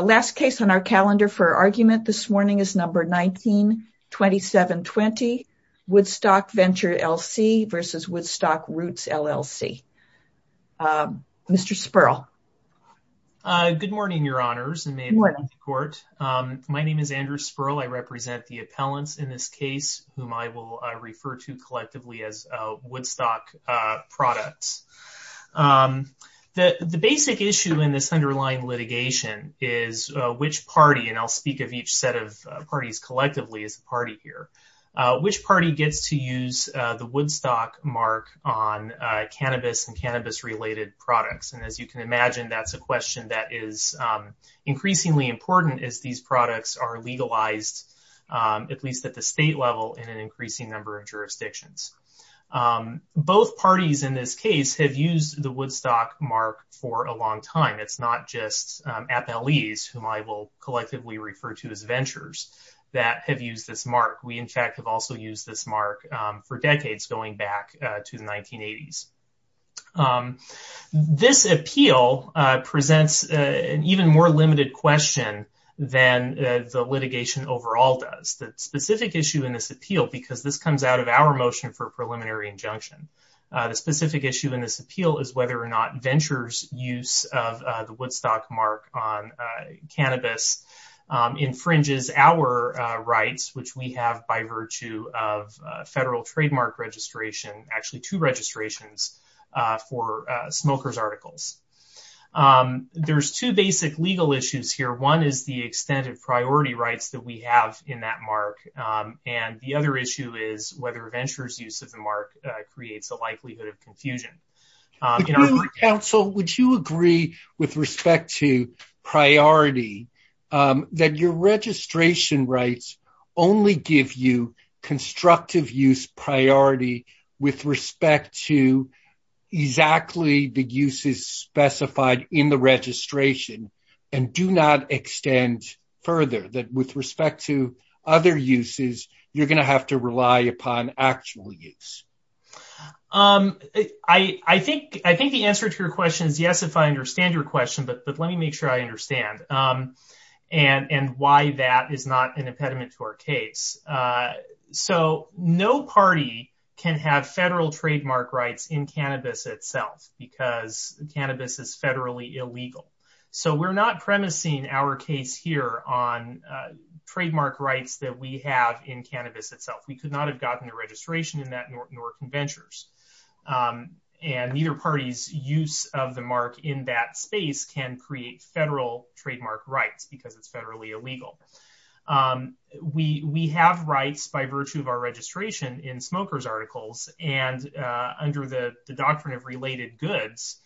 Last case on our calendar for argument this morning is number 19-2720, Woodstock Venture LC v. Woodstock Roots LLC. Mr. Sperl. Good morning, Your Honors, and may it be in your court. My name is Andrew Sperl. I represent the appellants in this case whom I will refer to collectively as Woodstock Products. The basic issue in this underlying litigation is which party, and I'll speak of each set of parties collectively as a party here, which party gets to use the Woodstock mark on cannabis and cannabis-related products, and as you can imagine, that's a question that is increasingly important as these products are subject to restrictions. Both parties in this case have used the Woodstock mark for a long time. It's not just appellees whom I will collectively refer to as ventures that have used this mark. We, in fact, have also used this mark for decades going back to the 1980s. This appeal presents an even more limited question than the litigation overall does. The specific issue in this appeal, because this comes out of our motion for preliminary injunction, the specific issue in this appeal is whether or not ventures' use of the Woodstock mark on cannabis infringes our rights, which we have by virtue of federal trademark registration, actually two registrations for smokers' articles. There's two basic legal issues here. One is the extent of priority rights that we have in that mark, and the other issue is whether ventures' use of the mark creates a likelihood of confusion. Council, would you agree with respect to priority that your registration rights only give you constructive use priority with respect to exactly the uses specified in the registration and do not extend further, that with respect to other uses, you're going to have to rely upon actual use? I think the answer to your question is yes, if I understand your question, but let me make sure I understand and why that is not an impediment to our case. So no party can have trademark rights in cannabis itself because cannabis is federally illegal. So we're not premising our case here on trademark rights that we have in cannabis itself. We could not have gotten a registration in that nor can ventures. And neither party's use of the mark in that space can create federal trademark rights because it's federally illegal. We have rights by virtue of our registration in smokers' articles, and under the doctrine of related goods,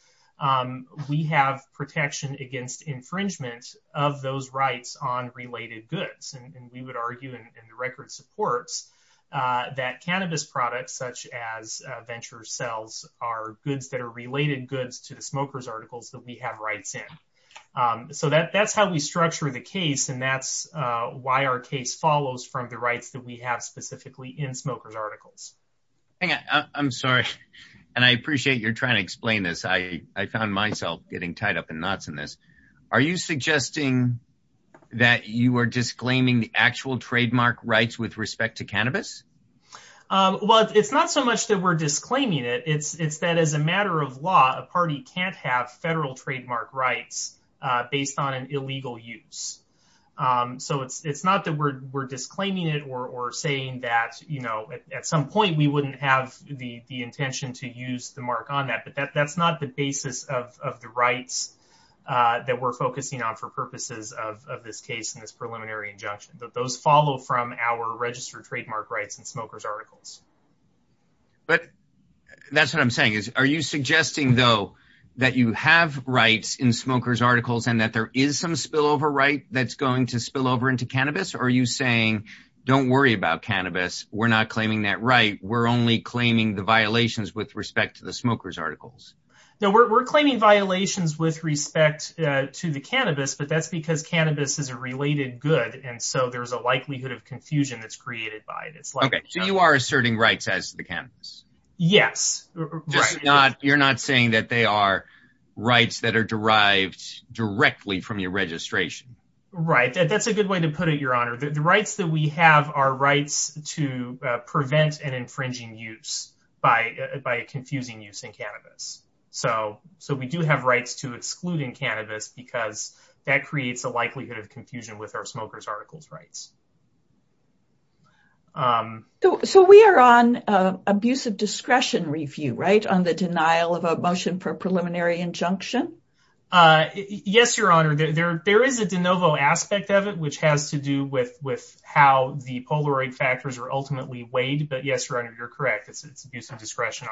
we have protection against infringement of those rights on related goods. And we would argue in the record supports that cannabis products such as venture sales are goods that are related goods to the smokers' articles that we have rights in. So that's how we structure the case, and that's why our case follows from the rights that we have specifically in smokers' articles. I'm sorry, and I appreciate you're trying to explain this. I found myself getting tied up in knots in this. Are you suggesting that you are disclaiming the actual trademark rights with respect to cannabis? Well, it's not so much that we're disclaiming it. It's that as a matter of law, a party can't have federal trademark rights based on an illegal use. So it's not that we're disclaiming it or saying that at some point we wouldn't have the intention to use the mark on that, but that's not the basis of the rights that we're focusing on for purposes of this case and this preliminary injunction. Those follow from our registered trademark rights in smokers' articles. But that's what I'm saying. Are you suggesting, though, that you have rights in smokers' articles and that there is some spillover right that's going to spill over into cannabis? Or are you saying, don't worry about cannabis, we're not claiming that right, we're only claiming the violations with respect to the smokers' articles? No, we're claiming violations with respect to the cannabis, but that's because cannabis is a related good, and so there's a likelihood of rights as to the cannabis. Yes. You're not saying that they are rights that are derived directly from your registration? Right. That's a good way to put it, Your Honor. The rights that we have are rights to prevent an infringing use by confusing use in cannabis. So we do have rights to exclude in cannabis because that creates a likelihood of confusion with our smokers' articles rights. So we are on abuse of discretion review, right, on the denial of a motion for preliminary injunction? Yes, Your Honor. There is a de novo aspect of it, which has to do with how the Polaroid factors are ultimately weighed, but yes, Your Honor, you're correct. It's abuse of discretion.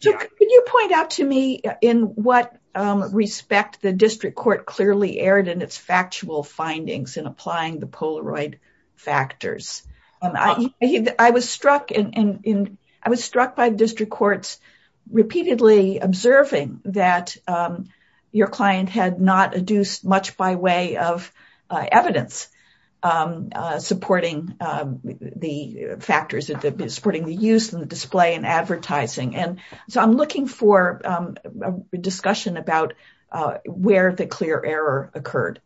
Can you point out to me in what respect the district court clearly erred in its factual findings in applying the Polaroid factors? I was struck by district courts repeatedly observing that your client had not adduced much by way of evidence supporting the factors, supporting the use and the display and advertising, and so I'm looking for a discussion about where the clear error occurred.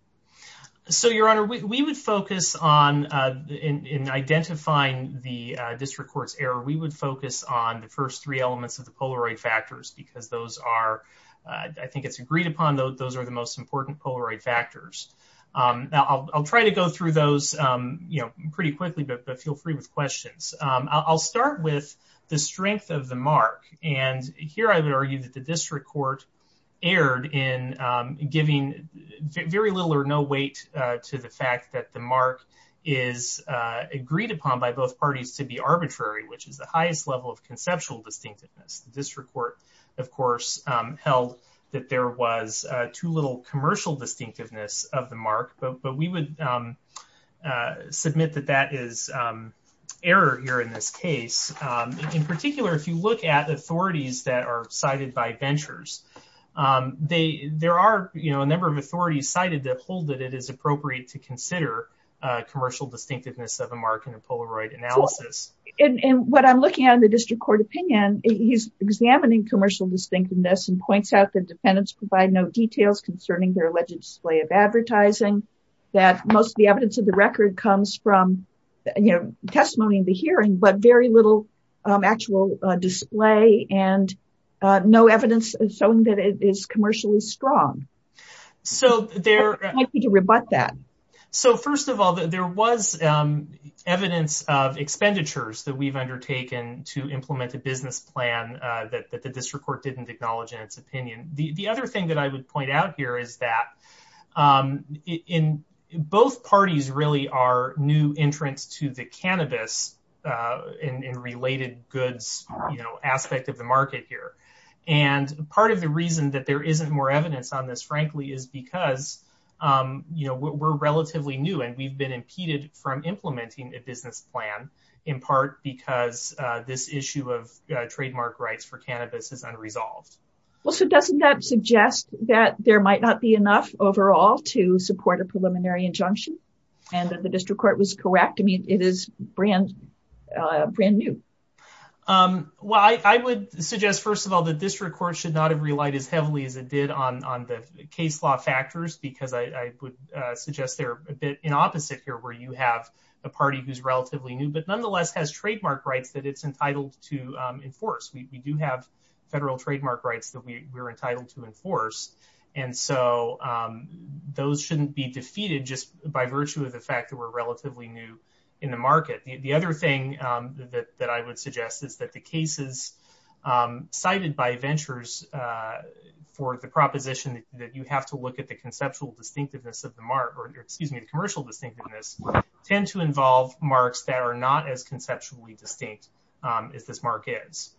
So, Your Honor, we would focus on identifying the district court's error. We would focus on the first three elements of the Polaroid factors because those are, I think it's agreed upon, those are the most important Polaroid factors. Now I'll try to go through those, you know, pretty quickly, but feel free with questions. I'll start with the strength of the mark, and here I would argue that the district court erred in giving very little or no weight to the fact that the mark is agreed upon by both parties to be arbitrary, which is the highest level of conceptual distinctiveness. The district court, of course, held that there was too little commercial distinctiveness of the mark, but we would submit that that is error here in this case. In particular, if you look at authorities that are cited by ventures, there are, you know, a number of authorities cited that hold that it is appropriate to consider commercial distinctiveness of a mark in a Polaroid analysis. And what I'm looking at in the district court opinion, he's examining commercial distinctiveness and points out that defendants provide no details concerning their alleged display of advertising, that most of the evidence of the record comes from, you know, testimony in the hearing, but very little actual display and no evidence showing that it is commercially strong. So there might be to rebut that. So first of all, there was evidence of expenditures that we've undertaken to implement a business plan that the district court didn't acknowledge in its opinion. The new entrance to the cannabis and related goods, you know, aspect of the market here. And part of the reason that there isn't more evidence on this, frankly, is because, you know, we're relatively new and we've been impeded from implementing a business plan, in part because this issue of trademark rights for cannabis is unresolved. Well, so doesn't that suggest that there might not be enough overall to support a preliminary injunction and that the district court was correct? I mean, it is brand new. Well, I would suggest, first of all, the district court should not have relied as heavily as it did on the case law factors, because I would suggest they're a bit in opposite here, where you have a party who's relatively new, but nonetheless has trademark rights that it's entitled to enforce. We do have federal trademark rights that we're entitled to enforce. And so those shouldn't be defeated just by virtue of the fact that we're relatively new in the market. The other thing that I would suggest is that the cases cited by ventures for the proposition that you have to look at the conceptual distinctiveness of the mark, or excuse me, the commercial distinctiveness tend to involve marks that are not as conceptually distinct as this mark is.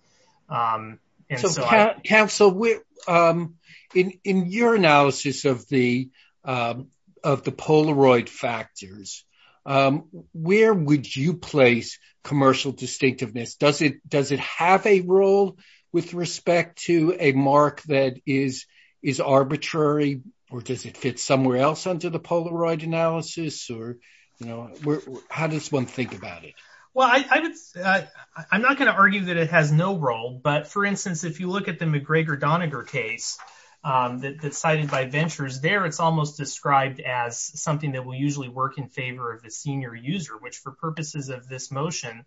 And so, Council, in your analysis of the Polaroid factors, where would you place commercial distinctiveness? Does it have a role with respect to a mark that is arbitrary, or does it fit somewhere else under the Polaroid analysis, or how does one think about it? Well, I'm not going to argue that it has no role, but for instance, if you look at the McGregor Doniger case that's cited by ventures there, it's almost described as something that will usually work in favor of the senior user, which for purposes of this motion,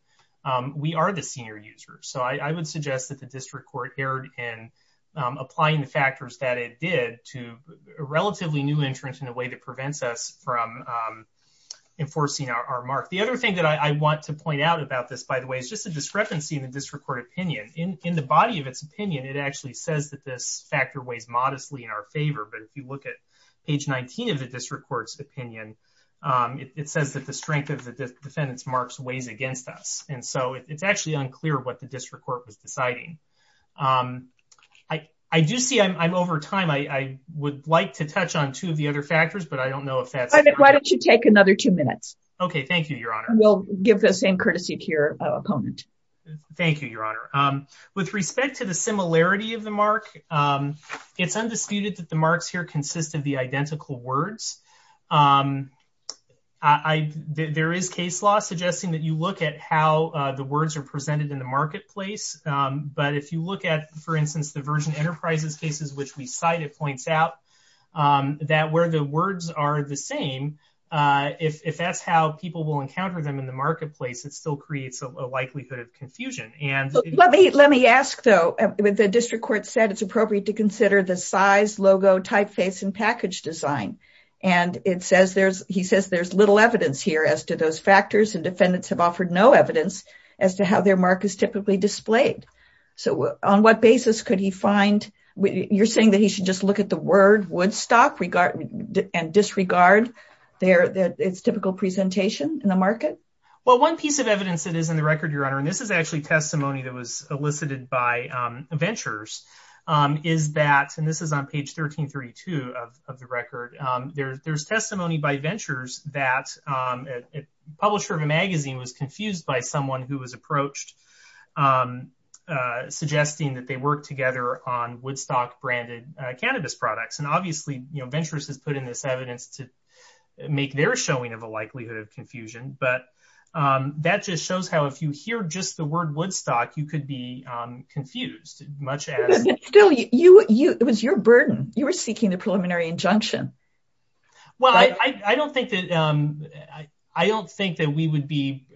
we are the senior user. So I would suggest that the district court erred in applying the factors that it did to relatively new entrants in a way that prevents us from enforcing our mark. The other thing that I want to point out about this, by the way, is just the discrepancy in the district court opinion. In the body of its opinion, it actually says that this factor weighs modestly in our favor, but if you look at page 19 of the district court's opinion, it says that the strength of the defendant's marks weighs against us. And so it's actually unclear what the district court was deciding. I do see I'm over time. I would like to touch on two of the other factors, but I don't know if that's... Why don't you take another two minutes? Okay. Thank you, Your Honor. We'll give the same courtesy to your opponent. Thank you, Your Honor. With respect to the similarity of the mark, it's undisputed that the marks here consist of the identical words. There is case law suggesting that you look at how the words are presented in the marketplace. But if you look at, for instance, the Virgin Enterprises cases, which we cite, it points out that where the words are the same, if that's how people will encounter them in the marketplace, it still creates a likelihood of confusion. Let me ask, though. The district court said it's appropriate to consider the size, logo, typeface, and package design. He says there's little evidence here as to those factors, and defendants have offered no evidence as to how their mark is typically displayed. So on what basis could he find... You're saying he should just look at the word Woodstock and disregard its typical presentation in the market? Well, one piece of evidence that is in the record, Your Honor, and this is actually testimony that was elicited by Ventures, is that... And this is on page 1332 of the record. There's testimony by Ventures that a publisher of a magazine was confused by someone who was approached suggesting that they work together on Woodstock-branded cannabis products. And obviously, Ventures has put in this evidence to make their showing of a likelihood of confusion, but that just shows how if you hear just the word Woodstock, you could be confused, much as... Still, it was your burden. You were seeking the preliminary injunction. Well, I don't think that we would be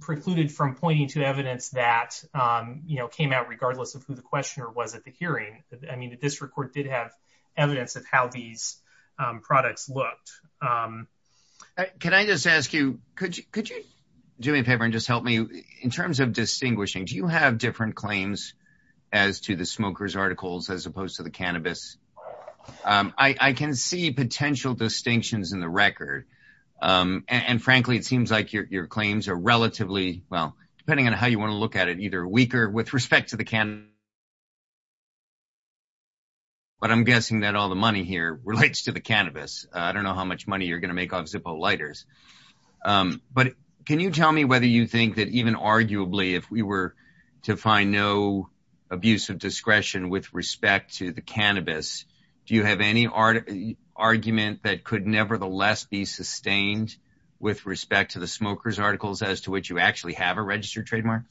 precluded from pointing to evidence that came out regardless of who the questioner was at the hearing. I mean, the district court did have evidence of how these products looked. Can I just ask you, could you do me a favor and just help me? In terms of distinguishing, do you have different claims as to the smoker's articles as opposed to the cannabis? I can see potential distinctions in the record. And frankly, it seems like your claims are relatively, well, depending on how you want to look at it, either weaker with respect to the cannabis, but I'm guessing that all the money here relates to the cannabis. I don't know how much money you're going to make off Zippo lighters. But can you tell me whether you have any argument that could nevertheless be sustained with respect to the smoker's articles as to which you actually have a registered trademark?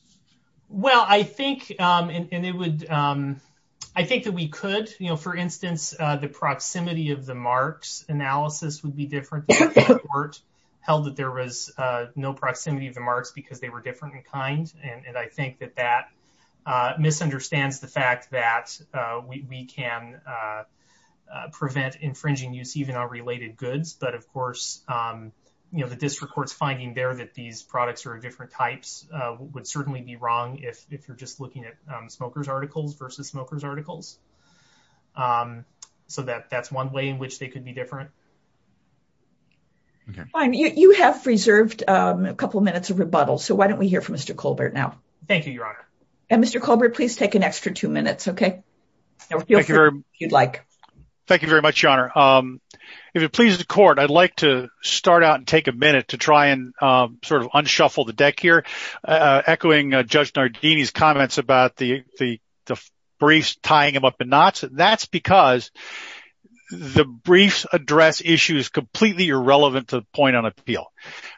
Well, I think that we could. For instance, the proximity of the marks analysis would be different. The court held that there was no proximity of the marks because they were different kinds. And I think that that misunderstands the fact that we can prevent infringing use even on related goods. But of course, the district court's finding there that these products are different types would certainly be wrong if you're just looking at smoker's articles versus smoker's articles. So that's one way in which they could be different. OK, fine. You have reserved a couple of minutes of rebuttal. So why don't we hear from Mr. Colbert now? Thank you, Your Honor. And Mr. Colbert, please take an extra two minutes, OK? Thank you very much, Your Honor. If it pleases the court, I'd like to start out and take a minute to try and sort of unshuffle the deck here, echoing Judge Nardini's comments about the briefs tying him up in knots. That's because the briefs address issues completely irrelevant to the point on appeal.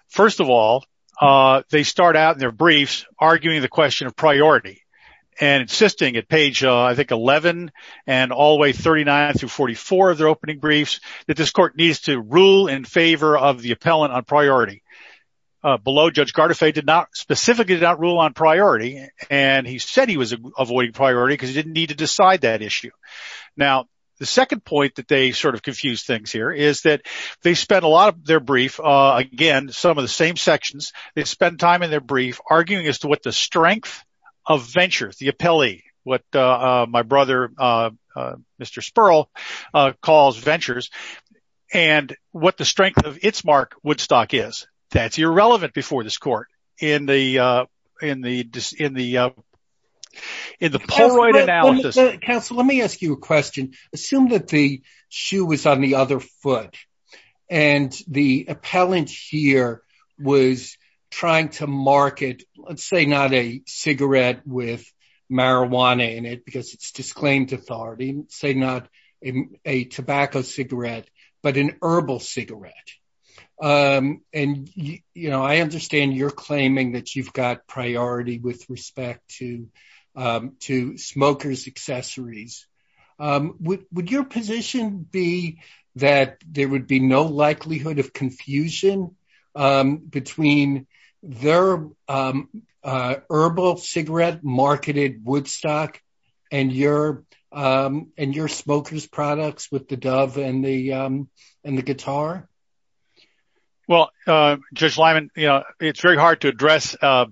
First of all, they start out in their briefs arguing the question of priority and insisting at page, I think, 11 and all the way 39 through 44 of their opening briefs that this court needs to rule in favor of the appellant on priority. Below, Judge Gardafe did not specifically rule on priority, and he said he was avoiding priority because he didn't need to decide that issue. Now, the second point that they sort of confuse things here is that they spent a lot of their brief, again, some of the same sections. They spent time in their brief arguing as to what the strength of ventures, the appellee, what my brother, Mr. Spurl, calls ventures and what the in the in the Polaroid analysis. Counsel, let me ask you a question. Assume that the shoe was on the other foot and the appellant here was trying to market, let's say not a cigarette with marijuana in it because it's disclaimed authority, say not a tobacco cigarette, but an herbal cigarette. And, you know, I understand you're claiming that you've got priority with respect to smokers' accessories. Would your position be that there would be no likelihood of confusion between their herbal cigarette marketed Woodstock and your smokers' products with Dove and the guitar? Well, Judge Lyman, it's very hard to address a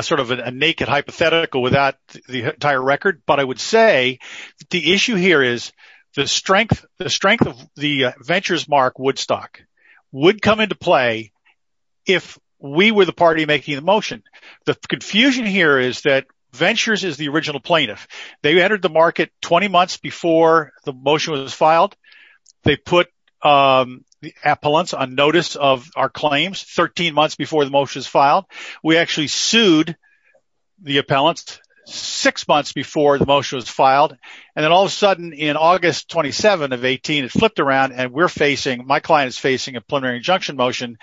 sort of a naked hypothetical without the entire record. But I would say the issue here is the strength of the ventures mark Woodstock would come into play if we were the party making the motion. The confusion here is that ventures is the original plaintiff. They entered the market 20 months before the motion was filed. They put the appellants on notice of our claims 13 months before the motion was filed. We actually sued the appellants six months before the motion was filed. And then all of a sudden in August 27 of 18, it flipped around and we're facing my client is facing a preliminary injunction motion.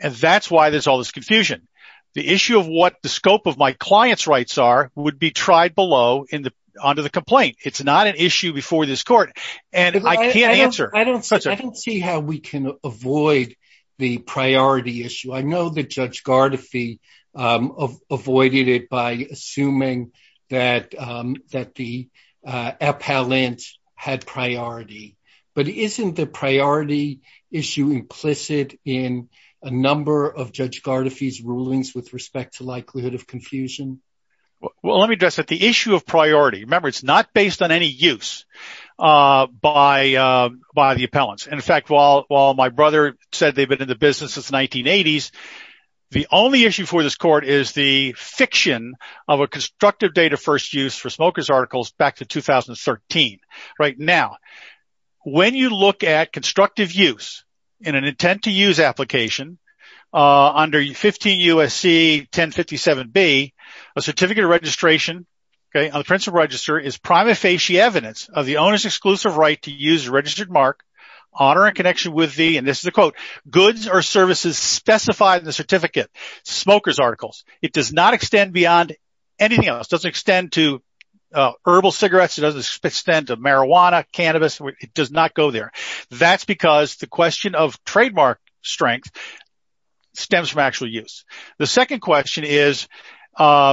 And that's why there's all this confusion. The issue of what the scope of my client's rights are would be tried below in the under the complaint. It's not an issue before this court. And I can't answer. I don't see how we can avoid the priority issue. I know that Judge Gardefee avoided it by assuming that the appellant had priority. But isn't the priority issue implicit in a number of Judge Gardefee's rulings with respect to likelihood of confusion? Well, let me address that. The issue of priority, remember, it's not based on any use by the appellants. In fact, while my brother said they've been in the business since the 1980s, the only issue for this court is the fiction of a constructive date of first use for Smoker's Articles back to 2013. Right now, when you look at constructive use in an intent to use application under 15 U.S.C. 1057B, a certificate of registration on the principal register is prima facie evidence of the owner's exclusive right to use a registered mark on or in connection with the, and this is a quote, goods or services specified in the certificate, Smoker's Articles. It does not extend beyond anything else. It doesn't extend to herbal cigarettes. It doesn't extend to marijuana, cannabis. It does not go there. That's because the question of trademark strength stems from actual use. The second question is for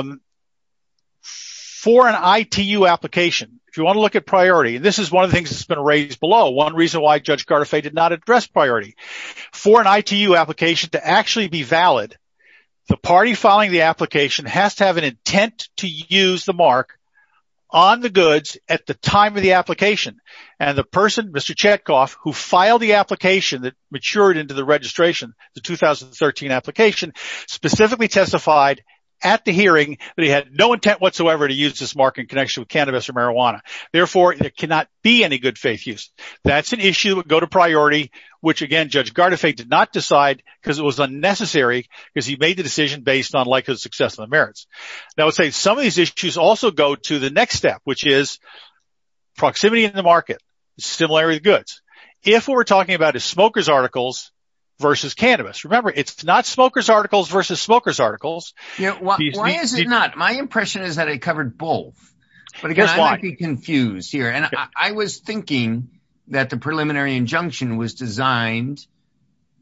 an ITU application, if you want to look at priority, and this is one of the things that's been raised below, one reason why Judge Gardefee did not address priority. For an ITU application to actually be valid, the party filing the application has to have an intent to use the mark on the goods at the time of the registration, the 2013 application, specifically testified at the hearing that he had no intent whatsoever to use this mark in connection with cannabis or marijuana. Therefore, there cannot be any good faith use. That's an issue that would go to priority, which again, Judge Gardefee did not decide because it was unnecessary because he made the decision based on likelihood of success of the merits. Now, I would say some of these issues also go to the next step, which is proximity in the market, similarity of goods. If what we're talking about is Smoker's Articles, versus cannabis. Remember, it's not Smoker's Articles versus Smoker's Articles. Why is it not? My impression is that I covered both, but again, I might be confused here. I was thinking that the preliminary injunction was designed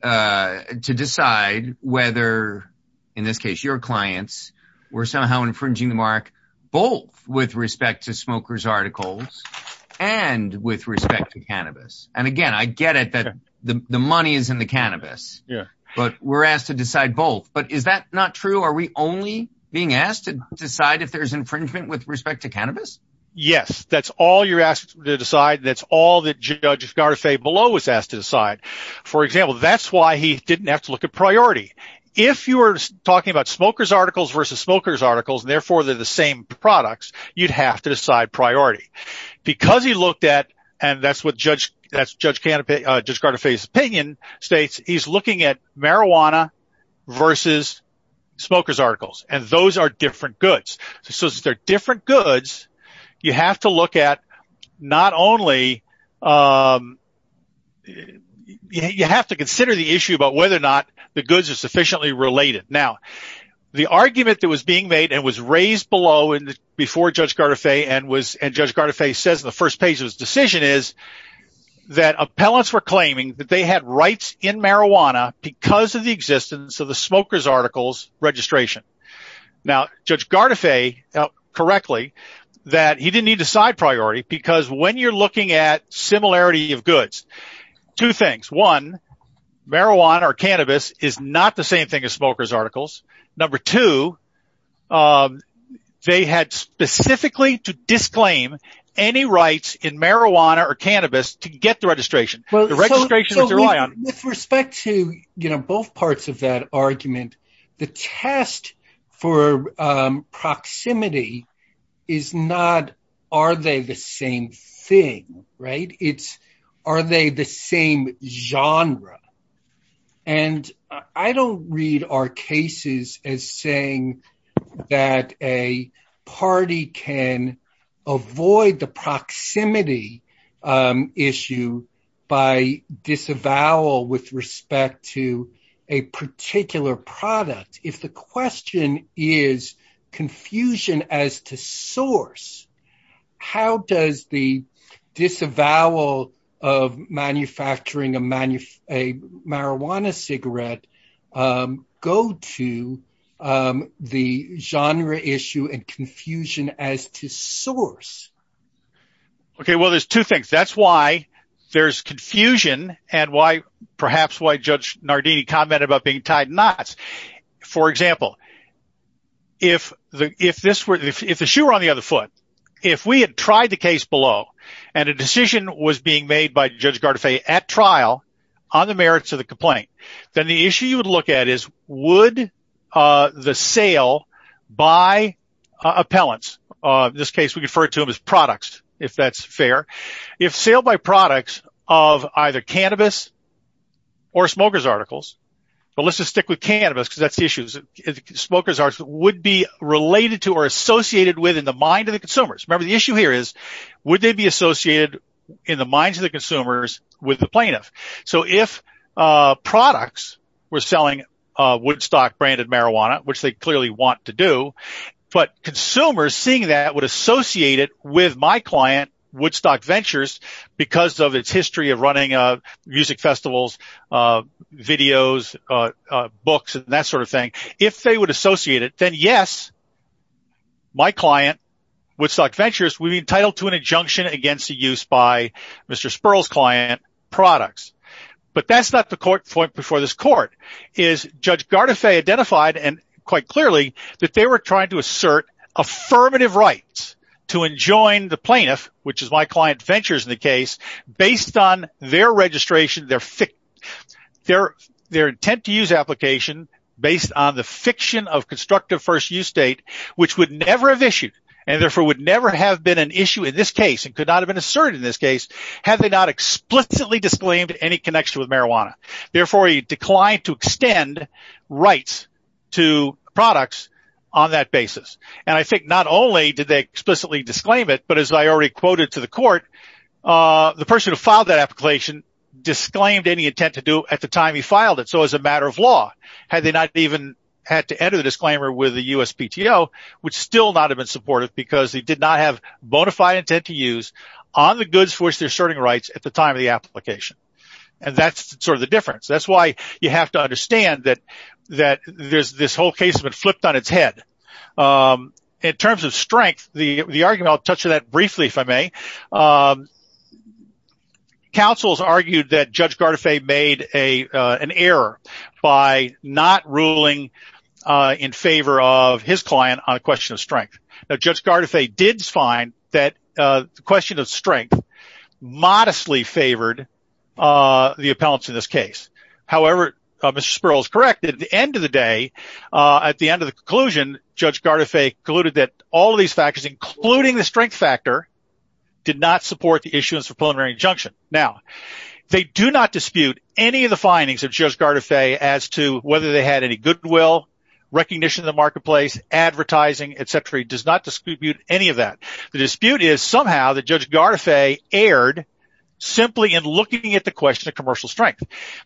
to decide whether, in this case, your clients were somehow infringing the mark, both with respect to Smoker's Articles and with respect to cannabis. Again, I get it that the money is in the cannabis, but we're asked to decide both. Is that not true? Are we only being asked to decide if there's infringement with respect to cannabis? Yes. That's all you're asked to decide. That's all that Judge Gardefee below was asked to decide. For example, that's why he didn't have to look at priority. If you were talking about Smoker's Articles versus Smoker's Articles, therefore, they're the same products, you'd have to decide priority. That's what Judge Gardefee's opinion states. He's looking at marijuana versus Smoker's Articles, and those are different goods. You have to consider the issue about whether or not the goods are sufficiently related. Now, the argument that was raised below before Judge Gardefee and Judge Gardefee says in the first page of his decision is that appellants were claiming that they had rights in marijuana because of the existence of the Smoker's Articles registration. Now, Judge Gardefee, correctly, that he didn't need to decide priority because when you're looking at similarity of goods, two things. One, marijuana or cannabis is not the same thing as Smoker's Articles. Number two, they had specifically to disclaim any rights in marijuana or cannabis to get the registration. With respect to both parts of that argument, the test for proximity is not are they the same thing. It's are they the same genre. I don't read our cases as saying that a party can avoid the proximity issue by disavowal with respect to a particular product. If the question is confusion as to source, how does the disavowal of manufacturing a marijuana cigarette go to the genre issue and confusion as to source? Okay, well, there's two things. That's why there's confusion and why perhaps why Judge Nardini commented about being tied knots. For example, if the shoe were on the other foot, if we had tried the case below and a decision was being made by Judge Gardefee at trial on the merits of the complaint, then the issue you would look at is would the sale by appellants, in this case, we refer to them as products if that's fair. If sale by products of either cannabis or Smoker's Articles, but let's just stick with cannabis because that's the consumers. Remember, the issue here is would they be associated in the minds of the consumers with the plaintiff? If products were selling Woodstock branded marijuana, which they clearly want to do, but consumers seeing that would associate it with my client, Woodstock Ventures, because of its history of running music festivals, videos, books, and that sort of thing. If they would associate it, then yes, my client, Woodstock Ventures, would be entitled to an injunction against the use by Mr. Sperl's client products, but that's not the point before this court. Judge Gardefee identified quite clearly that they were trying to assert affirmative rights to enjoin the plaintiff, which is my client Ventures in the case, based on their registration, their intent to use application based on the fiction of constructive first use state, which would never have issued, and therefore would never have been an issue in this case, and could not have been asserted in this case, had they not explicitly disclaimed any connection with marijuana. Therefore, he declined to extend rights to products on that basis, and I think not only did they explicitly disclaim it, but as I already quoted to the court, the person who filed that application disclaimed any intent to do at the time he filed it, so as a matter of law, had they not even had to enter the disclaimer with the USPTO, which still not have been supportive, because they did not have bona fide intent to use on the goods for which they're asserting rights at the time of the application, and that's sort of the difference. That's why you have to understand that this whole case has been flipped on its head. In terms of strength, the argument, I'll touch on that briefly, if I may, counsels argued that Judge Gardefeu made an error by not ruling in favor of his client on a question of strength. Now, Judge Gardefeu did find that the question of strength modestly favored the appellants in this case. However, Mr. Sperl is correct that at the end of the day, at the end of the conclusion, Judge Gardefeu concluded that all of these factors, including the strength factor, did not support the issuance of preliminary injunction. Now, they do not dispute any of the findings of Judge Gardefeu as to whether they had any goodwill, recognition in the marketplace, advertising, et cetera. He does not dispute any of that. The dispute is somehow that Judge Gardefeu erred simply in looking at the question of commercial strength,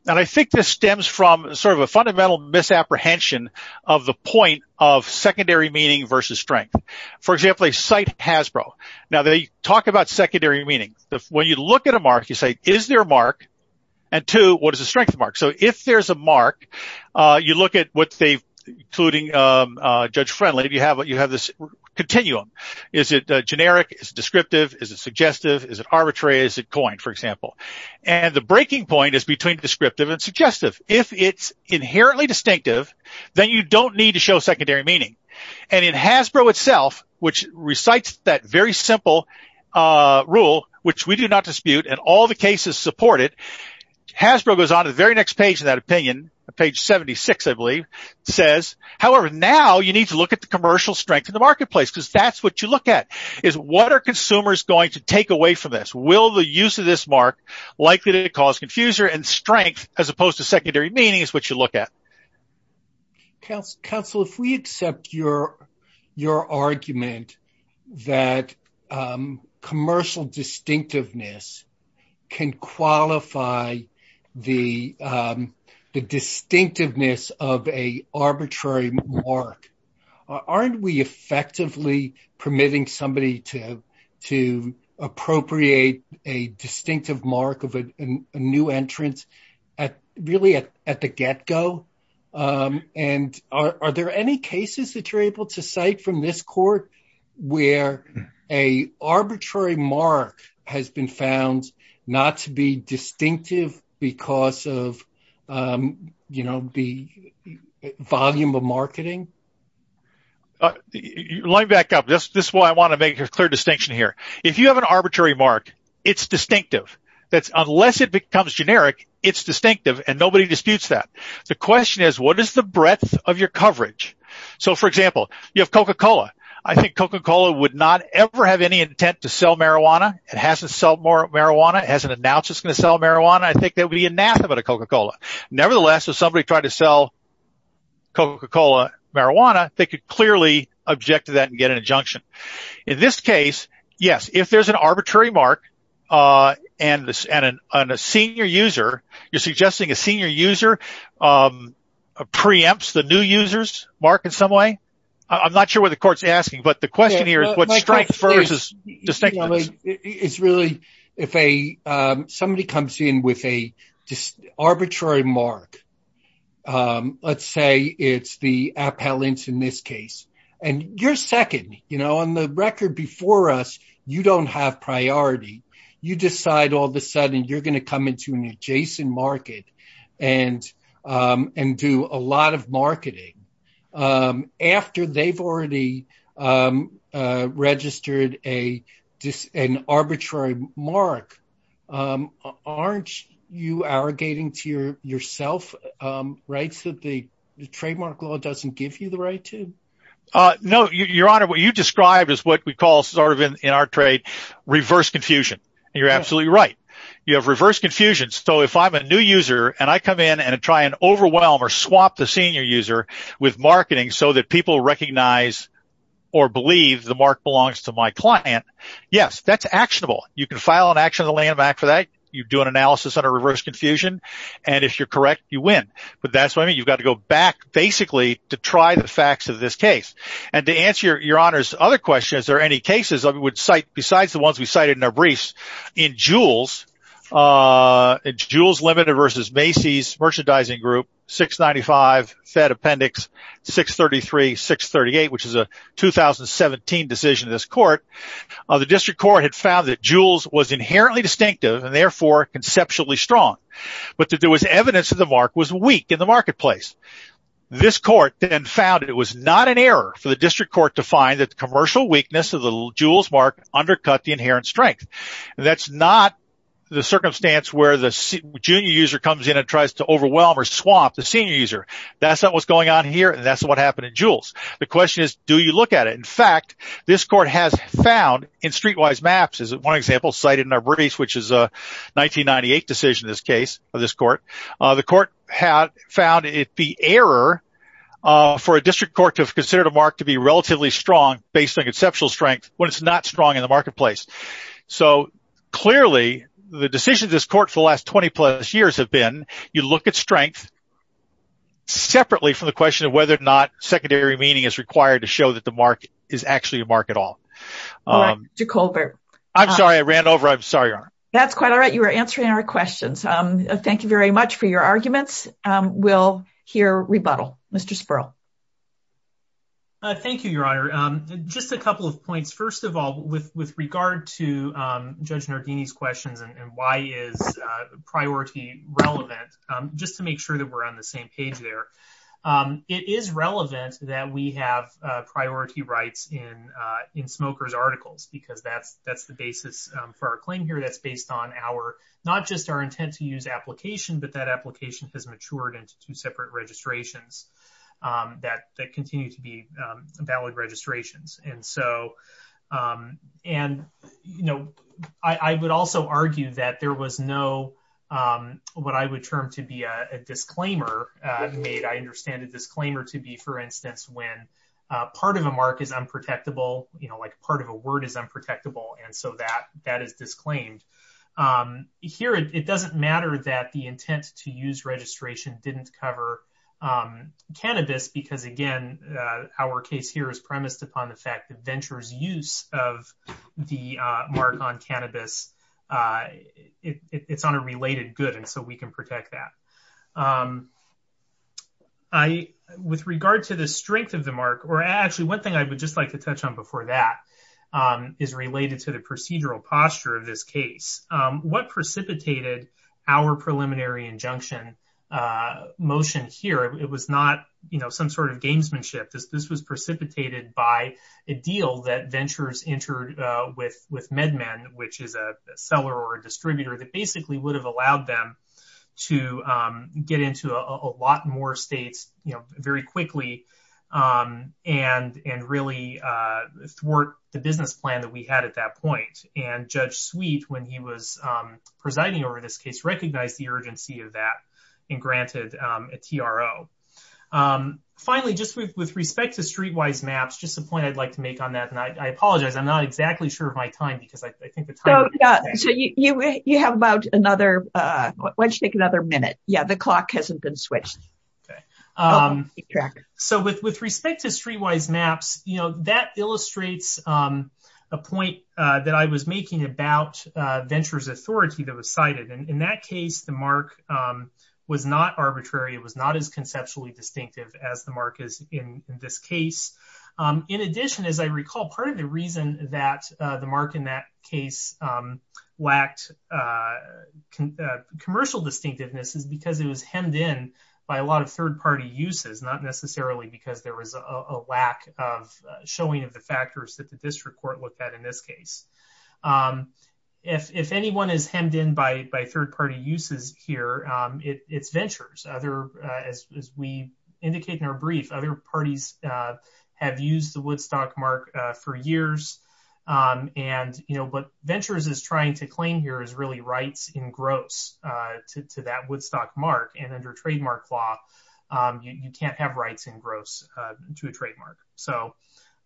and I think this stems from sort of a fundamental misapprehension of the For example, they cite Hasbro. Now, they talk about secondary meaning. When you look at a mark, you say, is there a mark? And two, what is the strength mark? So if there's a mark, you look at what they, including Judge Friendly, you have this continuum. Is it generic? Is it descriptive? Is it suggestive? Is it arbitrary? Is it coined, for example? And the breaking point is between descriptive and suggestive. If it's inherently distinctive, then you don't need to which recites that very simple rule, which we do not dispute, and all the cases support it. Hasbro goes on to the very next page of that opinion, page 76, I believe, says, however, now you need to look at the commercial strength in the marketplace, because that's what you look at, is what are consumers going to take away from this? Will the use of this mark likely to cause confusion and strength, as opposed to secondary meaning, which is what you look at? Counsel, if we accept your argument that commercial distinctiveness can qualify the distinctiveness of a arbitrary mark, aren't we effectively permitting somebody to appropriate a distinctive mark of a new entrance at really at the get-go? And are there any cases that you're able to cite from this court where a arbitrary mark has been found not to be distinctive because of the volume of marketing? Let me back up. This is why I want to make a clear distinction here. If you have an arbitrary mark, it's distinctive. Unless it becomes generic, it's distinctive, and nobody disputes that. The question is, what is the breadth of your coverage? For example, you have Coca-Cola. I think Coca-Cola would not ever have any intent to sell marijuana. It hasn't sold more marijuana. It hasn't announced it's going to sell marijuana. I think there would be anathema to Coca-Cola. Nevertheless, if somebody tried to sell Coca-Cola marijuana, they could clearly object to that and get an injunction. In this case, yes, if there's an arbitrary mark and a senior user, you're suggesting a senior user preempts the new user's mark in some way? I'm not sure what the court's mark is. Let's say it's the appellant in this case. You're second. On the record before us, you don't have priority. You decide all of a sudden you're going to come into an adjacent market and do a lot of marketing after they've already registered an arbitrary mark. Aren't you arrogating to yourself rights that the trademark law doesn't give you the right to? No, Your Honor. What you described is what we call sort of in our trade, reverse confusion. You're absolutely right. You have reverse confusion. So if I'm a new user and I come in and try and overwhelm or swap the senior user with marketing so that people recognize or believe the mark belongs to my client, yes, that's actionable. You can file an action on the landmark for that. You do an analysis on a reverse confusion. And if you're correct, you win. But that's what I mean. You've got to go back basically to try the facts of this case. And to answer Your Honor's other question, is there any cases besides the ones we cited in our briefs in Jules Limited versus Macy's Merchandising Group, 695 Fed Appendix 633-638, which is a 2017 decision of this court, the district court had found that Jules was inherently distinctive and therefore conceptually strong, but that there was evidence that the mark was weak in the marketplace. This court then found it was not an error for the district court to find that the commercial weakness of the Jules mark undercut the inherent strength. And that's not the circumstance where the junior user comes in and tries to overwhelm or swap the senior user. That's not what's going on here. And that's what happened in Jules. The question is, do you look at it? In fact, this court has found in streetwise maps, as one example cited in our briefs, which is a 1998 decision in this case of this court, the court had found it the error for a district court to have considered a mark to be relatively strong based on conceptual strength when it's not strong in the marketplace. So clearly, the decision of this court for the last 20 plus years have been, you look at strength separately from the question of whether or not secondary meaning is required to show that the mark is actually a mark at all. I'm sorry, I ran over. I'm sorry. That's quite all right. You were answering our questions. Thank you very much for your arguments. We'll hear rebuttal. Mr. Spurl. Thank you, Your Honor. Just a couple of points. First of all, with regard to Judge Nardini's questions and why is priority relevant, just to make sure that we're on the same page there, it is relevant that we have priority rights in Smoker's articles, because that's the basis for our claim here. That's based on not just our intent to use application, but that application has matured into two separate registrations that continue to be valid registrations. I would also argue that there was no what I would term to be a disclaimer made. I understand a disclaimer to be, for instance, when part of a mark is unprotectable, like part of a word is unprotectable, and so that is cannabis, because again, our case here is premised upon the fact that Venture's use of the mark on cannabis, it's on a related good, and so we can protect that. With regard to the strength of the mark, or actually one thing I would just like to touch on before that is related to the procedural posture of this case. What precipitated our preliminary injunction motion here, it was not some sort of gamesmanship. This was precipitated by a deal that Venture's entered with MedMen, which is a seller or a distributor that basically would have allowed them to get into a lot more states very quickly and really thwart the business plan that we had at that point. Judge Sweet, when he was presiding over this case, recognized the urgency of that and granted a TRO. Finally, just with respect to streetwise maps, just a point I'd like to make on that, and I apologize, I'm not exactly sure of my time, because I think the time... So you have about another, why don't you take another minute? Yeah, the clock hasn't been switched. Okay, so with respect to streetwise maps, that illustrates a point that I was making about Venture's authority that was cited. In that case, the mark was not arbitrary. It was not as conceptually distinctive as the mark is in this case. In addition, as I recall, part of the reason that the mark in that case lacked commercial distinctiveness is because it was hemmed in by a lot of third-party uses, not necessarily because there was a lack of showing of the factors that the district court looked at in this case. If anyone is hemmed in by third-party uses here, it's Venture's. As we indicate in our brief, other parties have used the Woodstock mark for years, and what Venture's is trying to claim here is really rights in gross to that Woodstock mark, and under trademark law, you can't have rights in gross to a trademark. So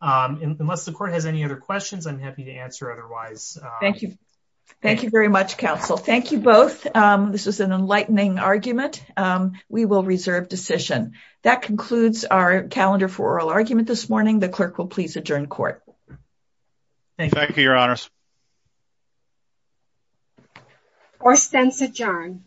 unless the court has any other questions, I'm happy to answer otherwise. Thank you. Thank you very much, counsel. Thank you both. This was an enlightening argument. We will reserve decision. That concludes our calendar for oral argument this morning. The clerk will please adjourn court. Thank you, your honors. Court stands adjourned.